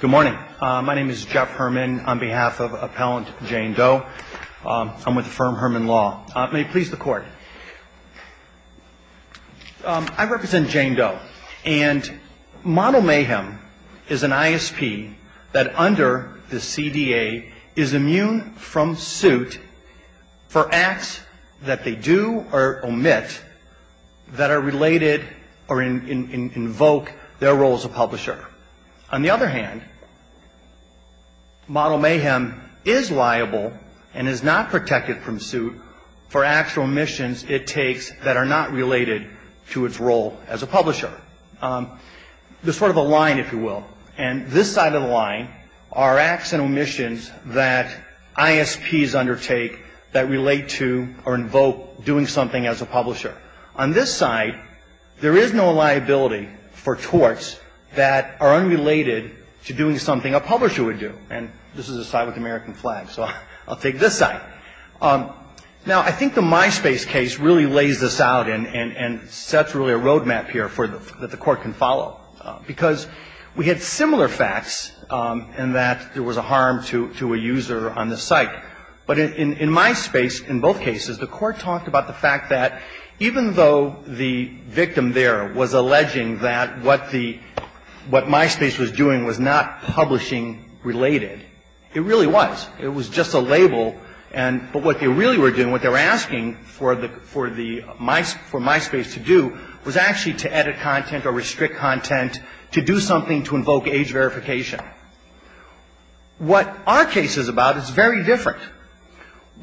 Good morning. My name is Jeff Herman on behalf of Appellant Jane Doe. I'm with the firm Herman Law. May it please the Court. I represent Jane Doe, and Model Mayhem is an ISP that under the CDA is immune from suit for acts that they do or omit that are related or invoke their role as a publisher. On the other hand, Model Mayhem is liable and is not protected from suit for acts or omissions it takes that are not related to its role as a publisher. There's sort of a line, if you will, and this side of the line are acts and omissions that ISPs undertake that relate to or invoke doing something as a publisher. On this side, there is no liability for torts that are unrelated to doing something a publisher would do. And this is a side with the American flag, so I'll take this side. Now, I think the MySpace case really lays this out and sets really a roadmap here that the Court can follow, because we had similar facts in that there was a harm to a user on the site. But in MySpace, in both cases, the Court talked about the fact that even though the victim there was alleging that what MySpace was doing was not publishing-related, it really was. It was just a label, but what they really were doing, what they were asking for MySpace to do, was actually to edit content or restrict content to do something to invoke age verification. What our case is about is very different.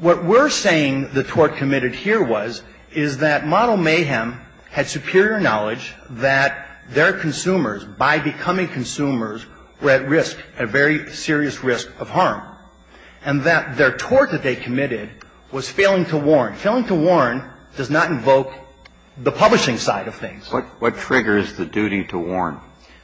What we're saying the tort committed here was is that Model Mayhem had superior knowledge that their consumers, by becoming consumers, were at risk, at very serious risk of harm, and that their tort that they committed was failing to warn. Failing to warn does not invoke the publishing side of things. What triggers the duty to warn?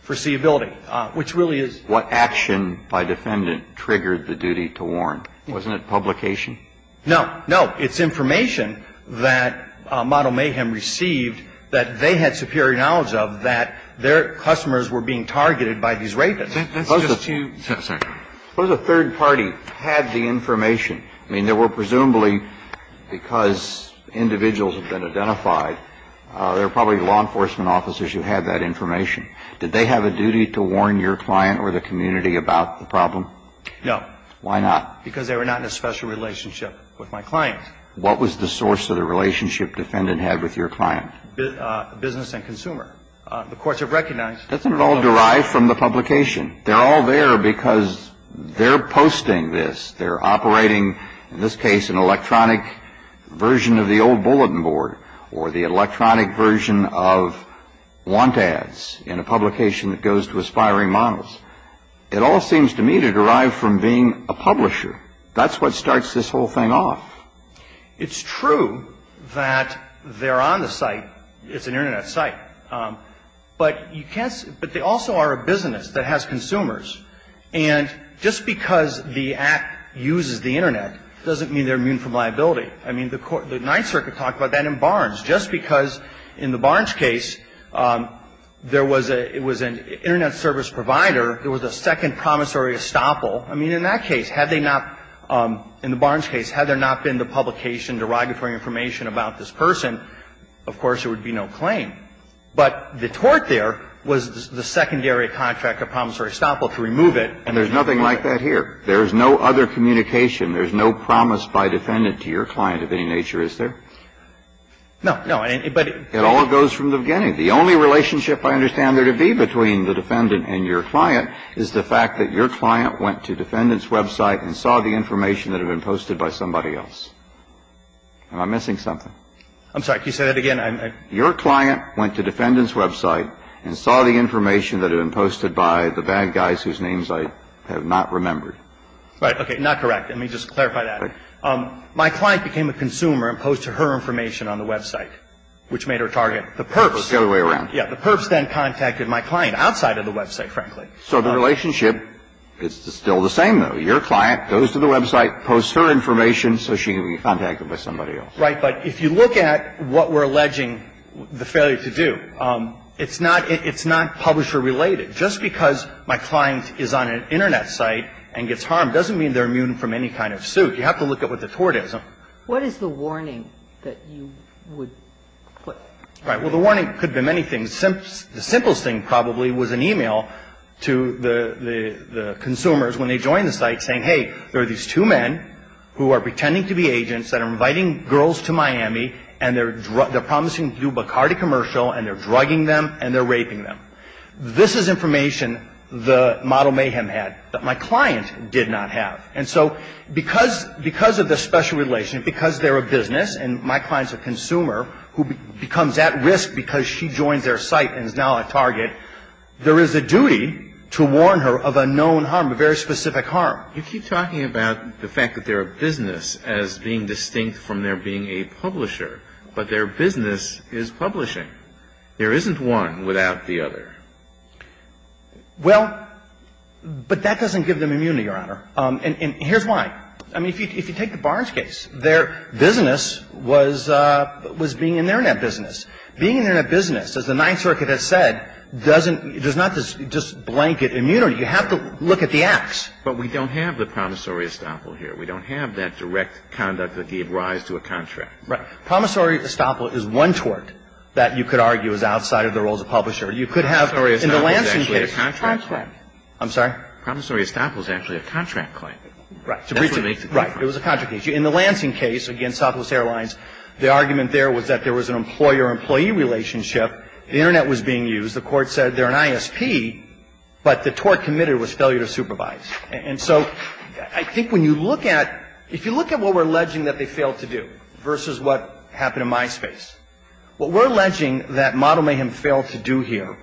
Foreseeability, which really is. What action by defendant triggered the duty to warn? Wasn't it publication? No. No. It's information that Model Mayhem received that they had superior knowledge of that their customers were being targeted by these rapists. That's just to. Sorry. Suppose a third party had the information. I mean, there were presumably, because individuals had been identified, there were probably law enforcement officers who had that information. Did they have a duty to warn your client or the community about the problem? No. Why not? Because they were not in a special relationship with my client. What was the source of the relationship defendant had with your client? Business and consumer. The courts have recognized. Doesn't it all derive from the publication? They're all there because they're posting this. They're operating, in this case, an electronic version of the old bulletin board or the electronic version of want ads in a publication that goes to aspiring models. It all seems to me to derive from being a publisher. That's what starts this whole thing off. It's true that they're on the site. It's an Internet site. But you can't. But they also are a business that has consumers. And just because the Act uses the Internet doesn't mean they're immune from liability. I mean, the Ninth Circuit talked about that in Barnes. Just because in the Barnes case, there was a – it was an Internet service provider. It was a second promissory estoppel. I mean, in that case, had they not – in the Barnes case, had there not been the publication, derogatory information about this person, of course, there would be no claim. But the tort there was the secondary contract of promissory estoppel to remove it. And there's nothing like that here. There's no other communication. There's no promise by defendant to your client of any nature, is there? No. No. But it all goes from the beginning. The only relationship I understand there to be between the defendant and your client is the fact that your client went to defendant's website and saw the information that had been posted by somebody else. Am I missing something? I'm sorry. Can you say that again? Your client went to defendant's website and saw the information that had been posted by the bad guys whose names I have not remembered. Right. Okay. Not correct. Let me just clarify that. My client became a consumer and posted her information on the website, which made her target the perps. The other way around. Yeah. The perps then contacted my client outside of the website, frankly. So the relationship is still the same, though. Your client goes to the website, posts her information so she can be contacted by somebody else. Right. But if you look at what we're alleging the failure to do, it's not publisher-related. Just because my client is on an Internet site and gets harmed doesn't mean they're immune from any kind of suit. You have to look at what the tort is. What is the warning that you would put? Right. Well, the warning could be many things. The simplest thing probably was an e-mail to the consumers when they joined the site saying, hey, there are these two men who are pretending to be agents that are inviting girls to Miami, and they're promising to do a Bacardi commercial, and they're drugging them, and they're raping them. This is information the model mayhem had that my client did not have. And so because of the special relation, because they're a business, and my client's a consumer who becomes at risk because she joins their site and is now a target, there is a duty to warn her of a known harm, a very specific harm. You keep talking about the fact that they're a business as being distinct from their being a publisher, but their business is publishing. There isn't one without the other. Well, but that doesn't give them immunity, Your Honor. And here's why. I mean, if you take the Barnes case, their business was being an Internet business. Being an Internet business, as the Ninth Circuit has said, doesn't – does not just blanket immunity. You have to look at the acts. But we don't have the promissory estoppel here. We don't have that direct conduct that gave rise to a contract. Right. Promissory estoppel is one tort that you could argue is outside of the roles of publisher. You could have – Promissory estoppel is actually a contract claim. I'm sorry? Promissory estoppel is actually a contract claim. Right. That's what makes it different. Right. It was a contract case. In the Lansing case against Southwest Airlines, the argument there was that there was an employer-employee relationship. The Internet was being used. The court said they're an ISP, but the tort committed was failure to supervise. And so I think when you look at – if you look at what we're alleging that they failed to do versus what happened in my space, what we're alleging that Model Mayhem failed to do here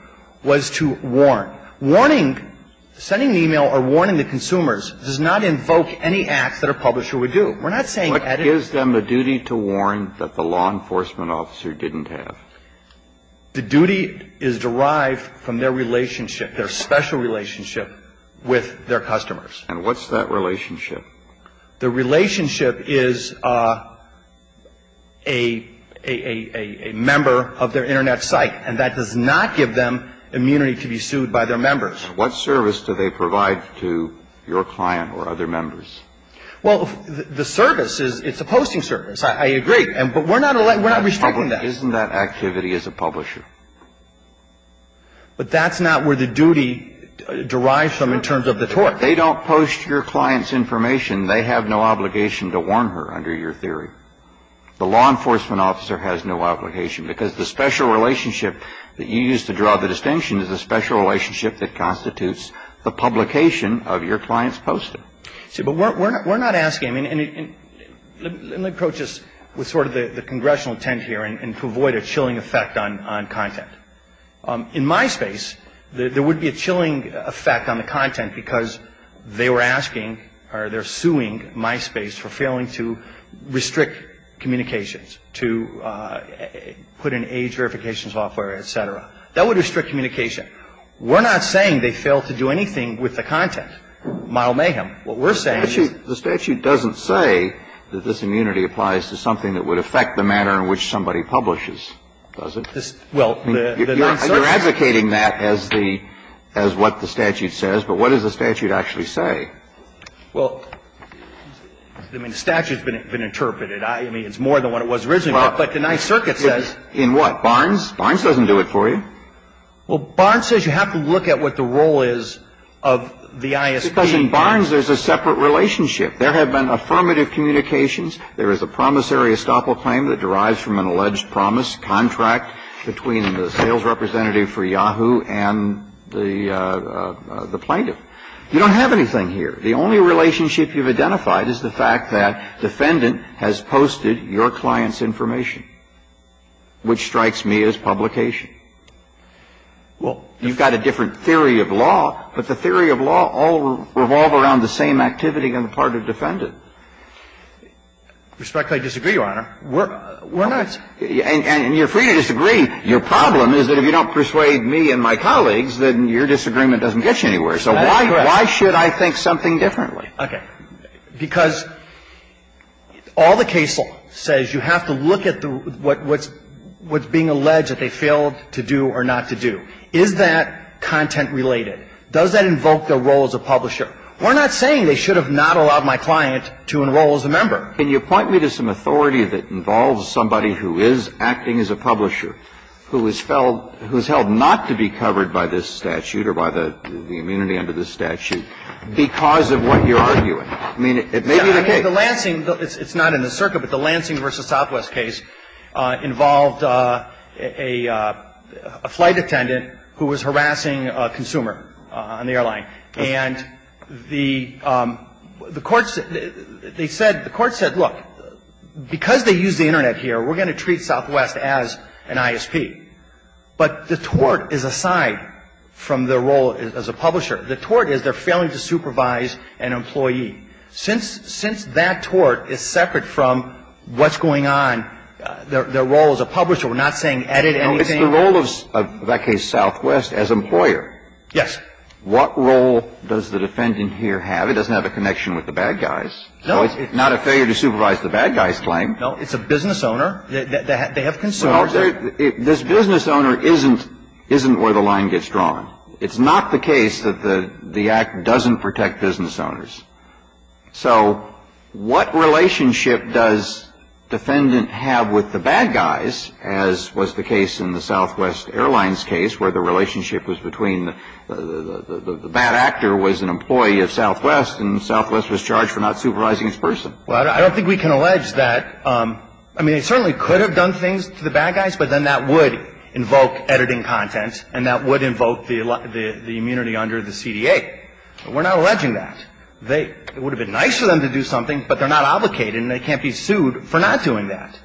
was to warn. Warning – sending an email or warning the consumers does not invoke any acts that a publisher would do. We're not saying that it – What gives them a duty to warn that the law enforcement officer didn't have? The duty is derived from their relationship, their special relationship with their customers. And what's that relationship? The relationship is a member of their Internet site. And that does not give them immunity to be sued by their members. What service do they provide to your client or other members? Well, the service is – it's a posting service. I agree. But we're not – we're not restricting that. Isn't that activity as a publisher? But that's not where the duty derives from in terms of the tort. They don't post your client's information. They have no obligation to warn her under your theory. The law enforcement officer has no obligation because the special relationship that you use to draw the distinction is a special relationship that constitutes the publication of your client's poster. See, but we're not asking – and let me approach this with sort of the congressional intent here and to avoid a chilling effect on content. In MySpace, there would be a chilling effect on the content because they were asking or they're suing MySpace for failing to restrict communications, to put in age verification software, et cetera. That would restrict communication. We're not saying they failed to do anything with the content. Mile mayhem. What we're saying is – The statute doesn't say that this immunity applies to something that would affect the manner in which somebody publishes, does it? Well, the Ninth Circuit – You're advocating that as the – as what the statute says, but what does the statute actually say? Well, I mean, the statute's been interpreted. I mean, it's more than what it was originally, but the Ninth Circuit says – In what? Barnes doesn't do it for you. Well, Barnes says you have to look at what the role is of the ISP. Because in Barnes, there's a separate relationship. There have been affirmative communications. There is a promissory estoppel claim that derives from an alleged promise contract between the sales representative for Yahoo and the plaintiff. You don't have anything here. The only relationship you've identified is the fact that defendant has posted your client's information, which strikes me as publication. Well – You've got a different theory of law, but the theory of law all revolve around the same activity on the part of defendant. Respectfully disagree, Your Honor. We're not – And you're free to disagree. Your problem is that if you don't persuade me and my colleagues, then your disagreement doesn't get you anywhere. So why should I think something differently? Okay. Because all the case law says you have to look at what's being alleged that they failed to do or not to do. Is that content related? Does that invoke their role as a publisher? We're not saying they should have not allowed my client to enroll as a member. Can you point me to some authority that involves somebody who is acting as a publisher who is held not to be covered by this statute or by the immunity under this statute because of what you're arguing? I mean, it may be the case. I mean, the Lansing – it's not in the circuit, but the Lansing v. Southwest case involved a flight attendant who was harassing a consumer on the airline. And the courts – they said – the courts said, look, because they use the Internet here, we're going to treat Southwest as an ISP. But the tort is aside from their role as a publisher. The tort is they're failing to supervise an employee. Since that tort is separate from what's going on, their role as a publisher, we're not saying edit anything. It's the role of, in that case, Southwest as employer. Yes. What role does the defendant here have? It doesn't have a connection with the bad guys. No. So it's not a failure to supervise the bad guys claim. No. It's a business owner. They have consumers. This business owner isn't where the line gets drawn. It's not the case that the act doesn't protect business owners. So what relationship does defendant have with the bad guys as was the case in the Southwest Airlines case where the relationship was between the bad actor was an employee of Southwest and Southwest was charged for not supervising his person? Well, I don't think we can allege that. I mean, they certainly could have done things to the bad guys, but then that would invoke editing content and that would invoke the immunity under the CDA. We're not alleging that. It would have been nice for them to do something, but they're not obligated and they can't be sued for not doing that.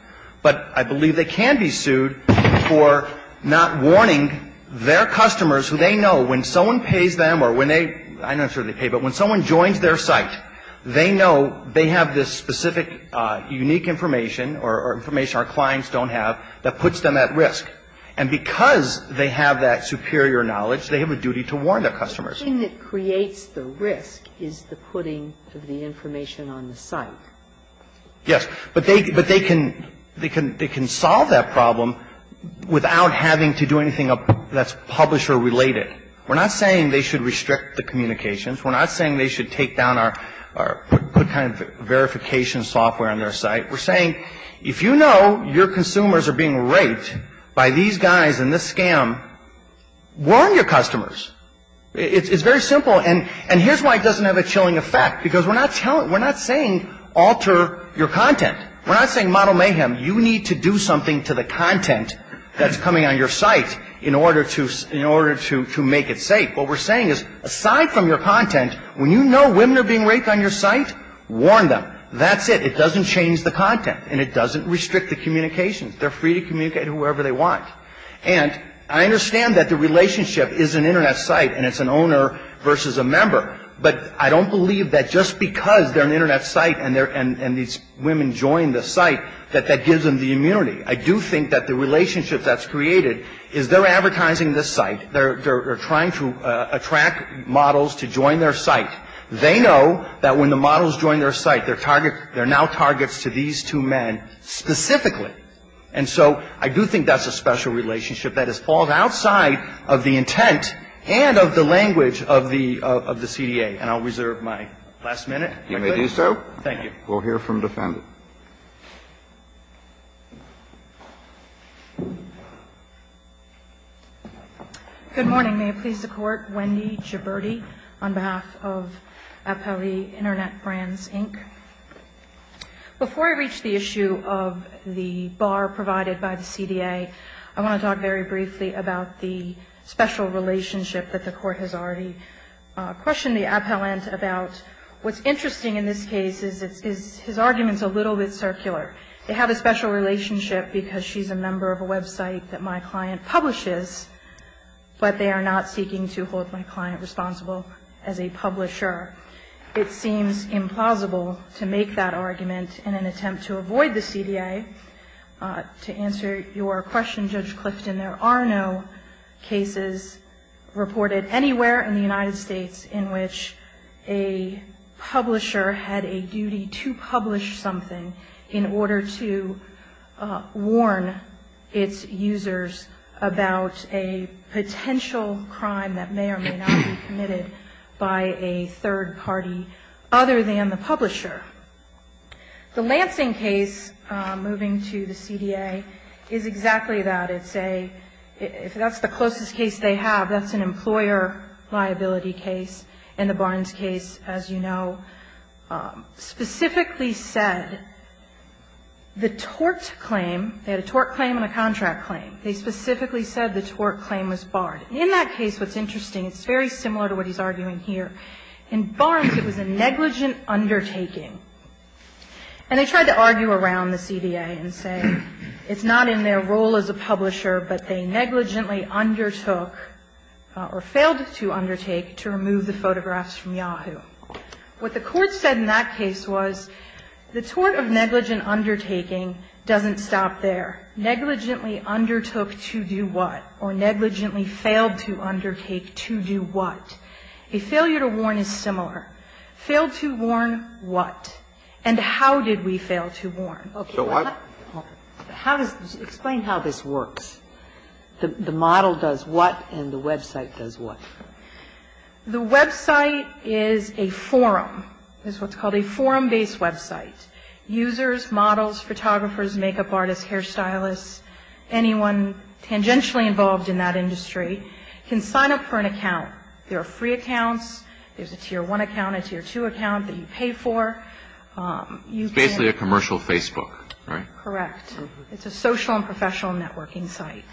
But I believe they can be sued for not warning their customers who they know when someone pays them or when they – I'm not sure they pay, but when someone joins their site, they know they have this specific unique information or information our clients don't have that puts them at risk. And because they have that superior knowledge, they have a duty to warn their customers. The thing that creates the risk is the putting of the information on the site. Yes. But they can solve that problem without having to do anything that's publisher related. We're not saying they should restrict the communications. We're not saying they should take down our – put kind of verification software on their site. We're saying if you know your consumers are being raped by these guys and this scam, warn your customers. It's very simple. And here's why it doesn't have a chilling effect, because we're not saying alter your content. We're not saying model mayhem. You need to do something to the content that's coming on your site in order to make it safe. What we're saying is aside from your content, when you know women are being raped on your site, warn them. That's it. It doesn't change the content and it doesn't restrict the communications. They're free to communicate whoever they want. And I understand that the relationship is an Internet site and it's an owner versus a member, but I don't believe that just because they're an Internet site and these women join the site that that gives them the immunity. I do think that the relationship that's created is they're advertising this site. They're trying to attract models to join their site. They know that when the models join their site, their target, they're now targets to these two men specifically. And so I do think that's a special relationship that has fallen outside of the intent and of the language of the CDA. And I'll reserve my last minute. Kennedy. Thank you. We'll hear from the defendant. Good morning. May it please the Court. Wendy Giberti on behalf of Appellee Internet Brands, Inc. Before I reach the issue of the bar provided by the CDA, I want to talk very briefly about the special relationship that the Court has already questioned the appellant about. What's interesting in this case is his argument's a little bit circular. They have a special relationship because she's a member of a website that my client publishes, but they are not seeking to hold my client responsible as a publisher. It seems implausible to make that argument in an attempt to avoid the CDA. To answer your question, Judge Clifton, there are no cases reported anywhere in the United States in which a publisher had a duty to publish something in order to warn its users about a potential crime that may or may not be committed by a third party other than the publisher. The Lansing case, moving to the CDA, is exactly that. It's a, if that's the closest case they have, that's an employer liability case. And the Barnes case, as you know, specifically said the tort claim, they had a tort claim and a contract claim, they specifically said the tort claim was barred. In that case, what's interesting, it's very similar to what he's arguing here. In Barnes, it was a negligent undertaking. And they tried to argue around the CDA and say it's not in their role as a publisher, but they negligently undertook or failed to undertake to remove the photographs from Yahoo. What the court said in that case was the tort of negligent undertaking doesn't stop there. Negligently undertook to do what? Or negligently failed to undertake to do what? A failure to warn is similar. Failed to warn what? And how did we fail to warn? Okay. Explain how this works. The model does what and the website does what? The website is a forum. It's what's called a forum-based website. Users, models, photographers, makeup artists, hairstylists, anyone tangentially involved in that industry can sign up for an account. There are free accounts. There's a Tier 1 account, a Tier 2 account that you pay for. You can ---- It's basically a commercial Facebook, right? Correct. It's a social and professional networking site.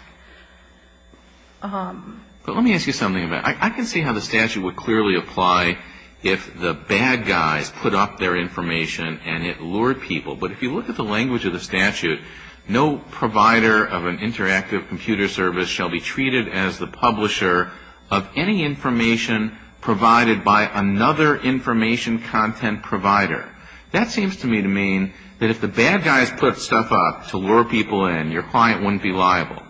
But let me ask you something about it. I can see how the statute would clearly apply if the bad guys put up their information and it lured people. But if you look at the language of the statute, no provider of an interactive computer service shall be treated as the publisher of any information provided by another information content provider. That seems to me to mean that if the bad guys put stuff up to lure people in, your client wouldn't be liable.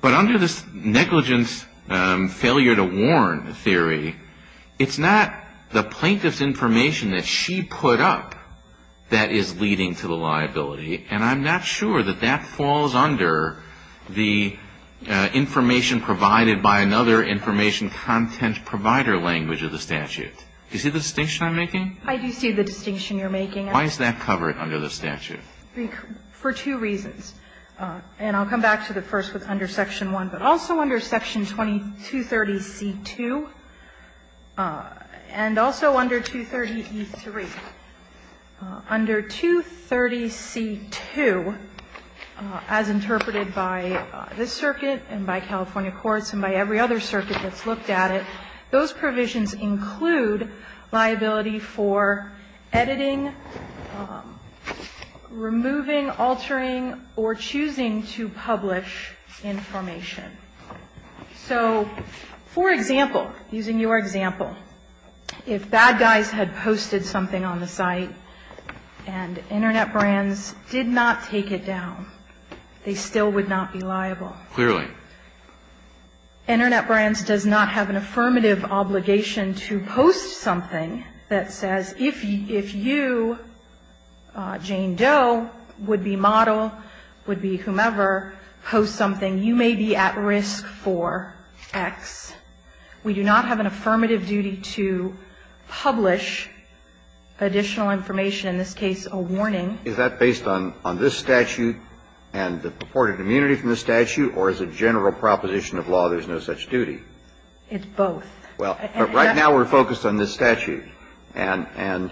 But under this negligence failure to warn theory, it's not the plaintiff's information that she put up that is leading to the liability. And I'm not sure that that falls under the information provided by another information content provider language of the statute. Do you see the distinction I'm making? I do see the distinction you're making. Why does that cover it under the statute? For two reasons. And I'll come back to the first one under Section 1. But also under Section 230C2, and also under 230E3, under 230C2, as interpreted by this circuit and by California courts and by every other circuit that's looked at it, those provisions include liability for editing, removing, altering, or choosing to publish information. So, for example, using your example, if bad guys had posted something on the site and Internet Brands did not take it down, they still would not be liable. Clearly. Internet Brands does not have an affirmative obligation to post something that says if you, Jane Doe, would be model, would be whomever, post something, you may be at risk for X. We do not have an affirmative duty to publish additional information, in this case a warning. Is that based on this statute and the purported immunity from the statute? Or is it general proposition of law there's no such duty? It's both. Well, right now we're focused on this statute. And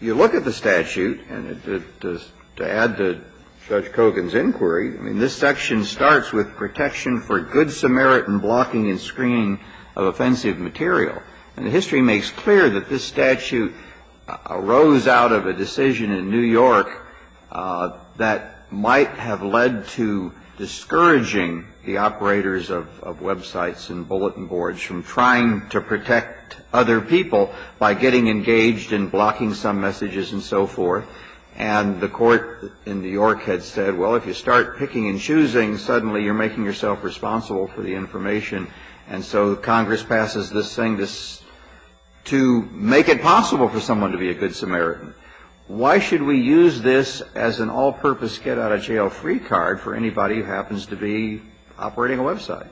you look at the statute, and to add to Judge Kogan's inquiry, I mean, this section starts with protection for good Samaritan blocking and screening of offensive material. And the history makes clear that this statute arose out of a decision in New York that might have led to discouraging the operators of websites and bulletin boards from trying to protect other people by getting engaged in blocking some messages and so forth. And the court in New York had said, well, if you start picking and choosing, suddenly you're making yourself responsible for the information. And so Congress passes this thing to make it possible for someone to be a good Samaritan. Why should we use this as an all-purpose get-out-of-jail-free card for anybody who happens to be operating a website?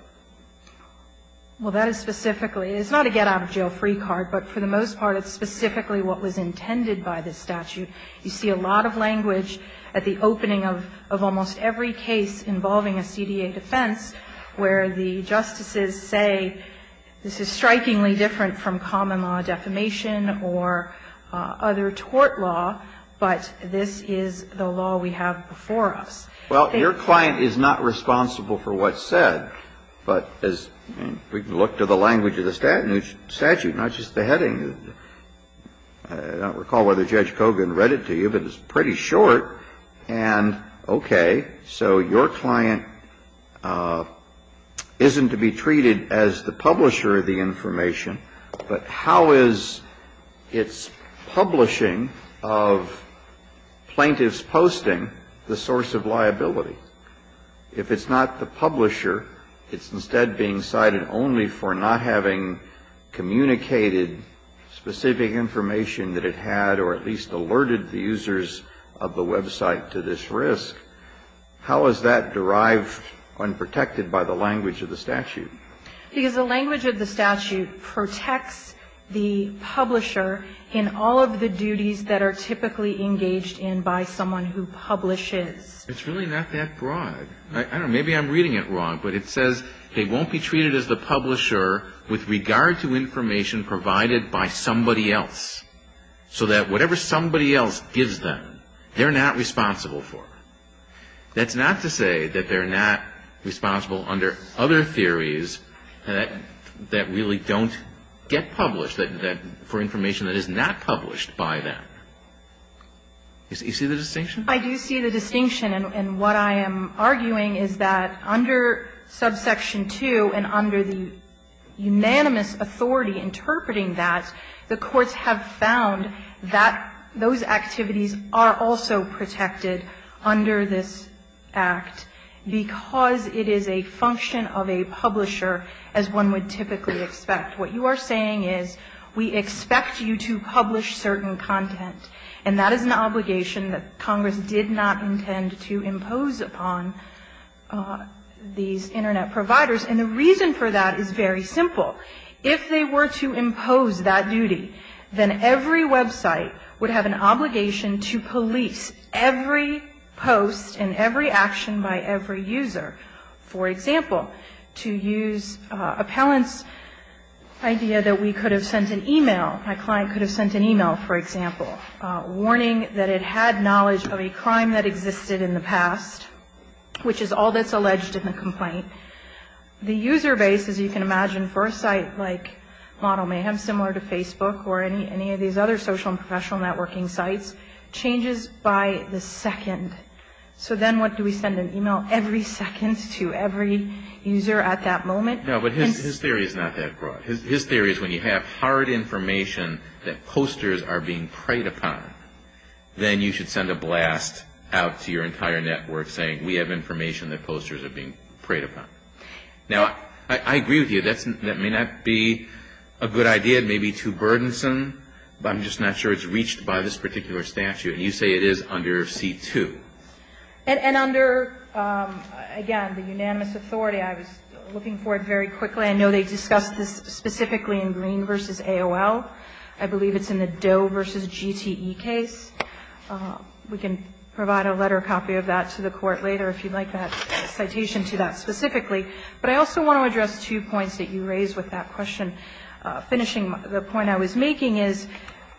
Well, that is specifically – it's not a get-out-of-jail-free card, but for the most part it's specifically what was intended by this statute. You see a lot of language at the opening of almost every case involving a CDA defense where the justices say this is strikingly different from common law defamation or other tort law, but this is the law we have before us. Well, your client is not responsible for what's said, but as – I mean, we can look to the language of the statute, not just the heading. I don't recall whether Judge Kogan read it to you, but it's pretty short. And okay, so your client isn't to be treated as the publisher of the information, but how is its publishing of plaintiff's posting the source of liability? If it's not the publisher, it's instead being cited only for not having communicated specific information that it had or at least alerted the users of the website to this risk. How is that derived and protected by the language of the statute? Because the language of the statute protects the publisher in all of the duties that are typically engaged in by someone who publishes. It's really not that broad. I don't know, maybe I'm reading it wrong, but it says they won't be treated as the publisher with regard to information provided by somebody else, so that whatever somebody else gives them, they're not responsible for. That's not to say that they're not responsible under other theories that really don't get published for information that is not published by them. You see the distinction? I do see the distinction, and what I am arguing is that under subsection 2 and under the unanimous authority interpreting that, the courts have found that those activities are also protected under this act because it is a function of a publisher, as one would typically expect. What you are saying is we expect you to publish certain content, and that is an obligation that Congress did not intend to impose upon these Internet providers, and the reason for that is very simple. If they were to impose that duty, then every website would have an obligation to police every post and every action by every user. For example, to use Appellant's idea that we could have sent an e-mail, my client could have sent an e-mail, for example, warning that it had knowledge of a crime that existed in the past, which is all that's alleged in the complaint. The user base, as you can imagine, for a site like Model Mayhem, similar to Facebook or any of these other social and professional networking sites, changes by the second. So then what do we send? An e-mail every second to every user at that moment? No, but his theory is not that broad. His theory is when you have hard information that posters are being preyed upon, then you should send a blast out to your entire network saying we have information that posters are being preyed upon. Now, I agree with you. That may not be a good idea. It may be too burdensome, but I'm just not sure it's reached by this particular statute. And you say it is under C-2. And under, again, the unanimous authority, I was looking for it very quickly. I know they discussed this specifically in Green v. AOL. I believe it's in the Doe v. GTE case. We can provide a letter copy of that to the Court later if you'd like that citation. But I also want to address two points that you raised with that question. Finishing the point I was making is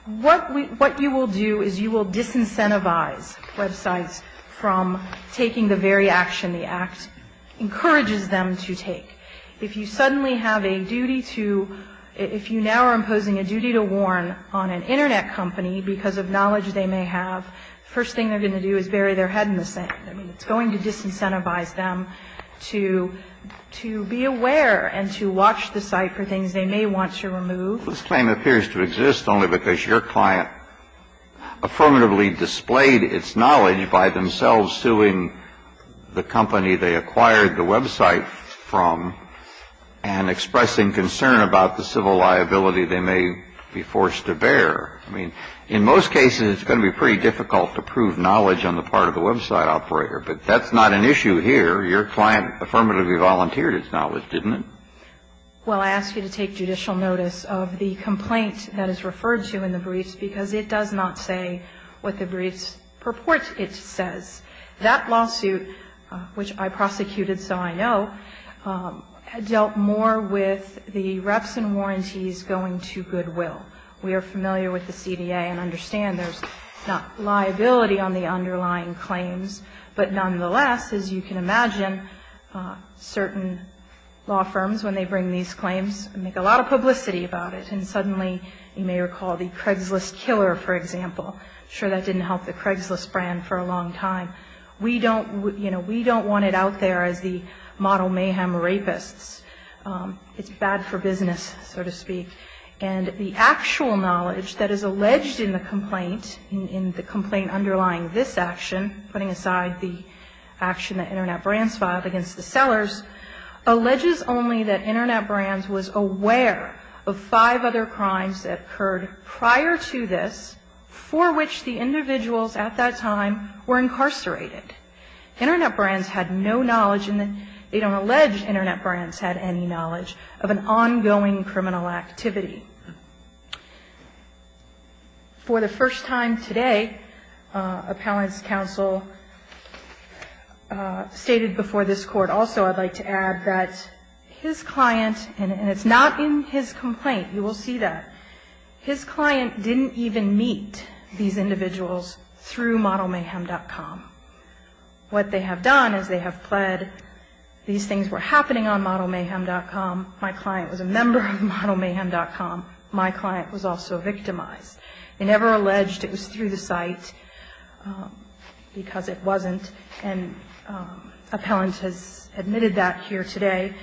what you will do is you will disincentivize websites from taking the very action the Act encourages them to take. If you suddenly have a duty to, if you now are imposing a duty to warn on an Internet company because of knowledge they may have, the first thing they're going to do is bury their head in the sand. I mean, it's going to disincentivize them to be aware and to watch the site for things they may want to remove. This claim appears to exist only because your client affirmatively displayed its knowledge by themselves suing the company they acquired the website from and expressing concern about the civil liability they may be forced to bear. I mean, in most cases, it's going to be pretty difficult to prove knowledge on the part of the website operator, but that's not an issue here. Your client affirmatively volunteered its knowledge, didn't it? Well, I ask you to take judicial notice of the complaint that is referred to in the briefs because it does not say what the briefs purport it says. That lawsuit, which I prosecuted, so I know, dealt more with the reps and warranties going to goodwill. We are familiar with the CDA and understand there's not liability on the underlying claims, but nonetheless, as you can imagine, certain law firms, when they bring these claims, make a lot of publicity about it. And suddenly, you may recall the Craigslist killer, for example. I'm sure that didn't help the Craigslist brand for a long time. We don't want it out there as the model mayhem rapists. It's bad for business, so to speak. And the actual knowledge that is alleged in the complaint, in the complaint underlying this action, putting aside the action that Internet Brands filed against the sellers, alleges only that Internet Brands was aware of five other crimes that occurred prior to this for which the individuals at that time were incarcerated. Internet Brands had no knowledge, and they don't allege Internet Brands had any knowledge of an ongoing criminal activity. For the first time today, appellant's counsel stated before this court also, I'd like to add, that his client, and it's not in his complaint, you will see that, his client didn't even meet these individuals through ModelMayhem.com. What they have done is they have pled these things were happening on ModelMayhem.com. My client was a member of ModelMayhem.com. My client was also victimized. They never alleged it was through the site, because it wasn't. And appellant has admitted that here today.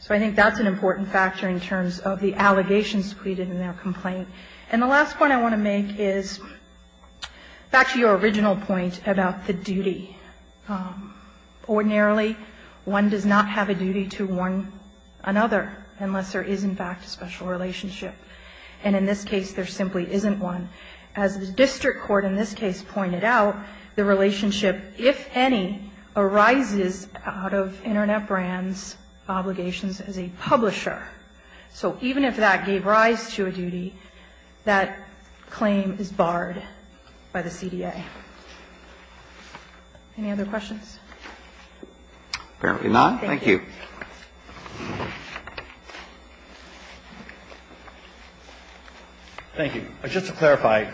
So I think that's an important factor in terms of the allegations pleaded in their complaint. And the last point I want to make is back to your original point about the duty. Ordinarily, one does not have a duty to warn another unless there is, in fact, a special relationship. And in this case, there simply isn't one. As the district court in this case pointed out, the relationship, if any, arises out of Internet Brands' obligations as a publisher. So even if that gave rise to a duty, that claim is barred by the CDA. Any other questions? Apparently not. Thank you. Thank you. Just to clarify,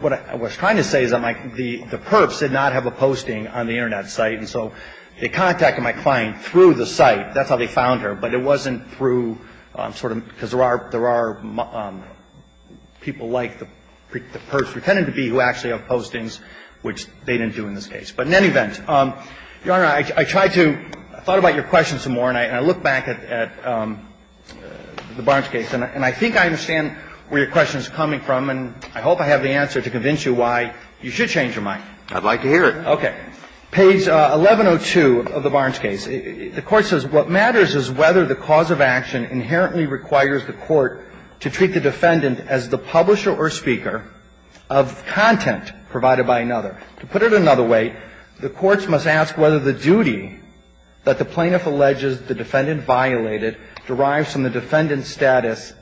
what I was trying to say is that the perps did not have a posting on the Internet site, and so they contacted my client through the site. That's how they found her. But it wasn't through sort of because there are people like the perps pretended to be who actually have postings, which they didn't do in this case. But in any event, Your Honor, I tried to – I thought about your question some more, and I looked back at the Barnes case. And I think I understand where your question is coming from, and I hope I have the answer to convince you why you should change your mind. I'd like to hear it. Okay. Page 1102 of the Barnes case. The Court says, What matters is whether the cause of action inherently requires the court to treat the defendant as the publisher or speaker of content provided by another. To put it another way, the courts must ask whether the duty that the plaintiff alleges the defendant violated derives from the defendant's status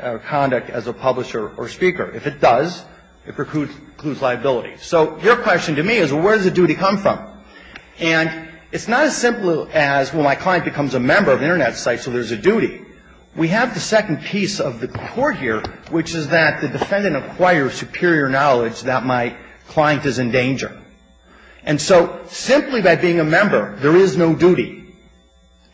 or conduct as a publisher or speaker. If it does, it precludes liability. So your question to me is, well, where does the duty come from? And it's not as simple as, well, my client becomes a member of an Internet site, so there's a duty. We have the second piece of the court here, which is that the defendant acquires superior knowledge that my client is in danger. And so simply by being a member, there is no duty.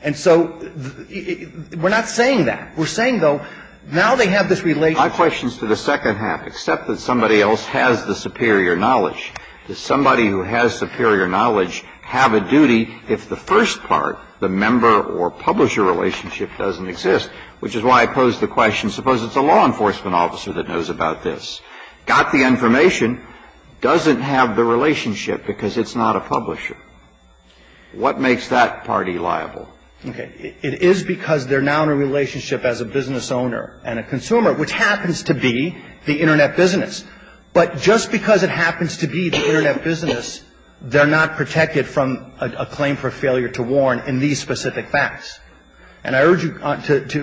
And so we're not saying that. We're saying, though, now they have this relationship. My question is to the second half, except that somebody else has the superior knowledge. Does somebody who has superior knowledge have a duty if the first part, the member or publisher relationship, doesn't exist, which is why I pose the question, suppose it's a law enforcement officer that knows about this, got the information, doesn't have the relationship because it's not a publisher. What makes that party liable? Okay. It is because they're now in a relationship as a business owner and a consumer, which happens to be the Internet business. But just because it happens to be the Internet business, they're not protected from a claim for failure to warn in these specific facts. And I urge you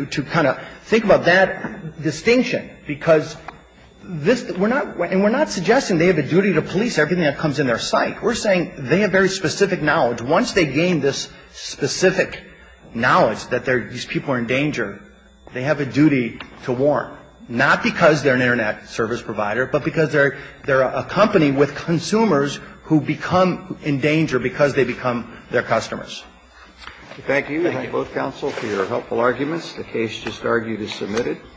to kind of think about that distinction, because this we're not – and we're not suggesting they have a duty to police everything that comes in their site. We're saying they have very specific knowledge. Once they gain this specific knowledge that these people are in danger, they have a duty to warn, not because they're an Internet service provider, but because they're a company with consumers who become in danger because they become their customers. Thank you. Thank you. We thank both counsel for your helpful arguments. The case just argued is submitted.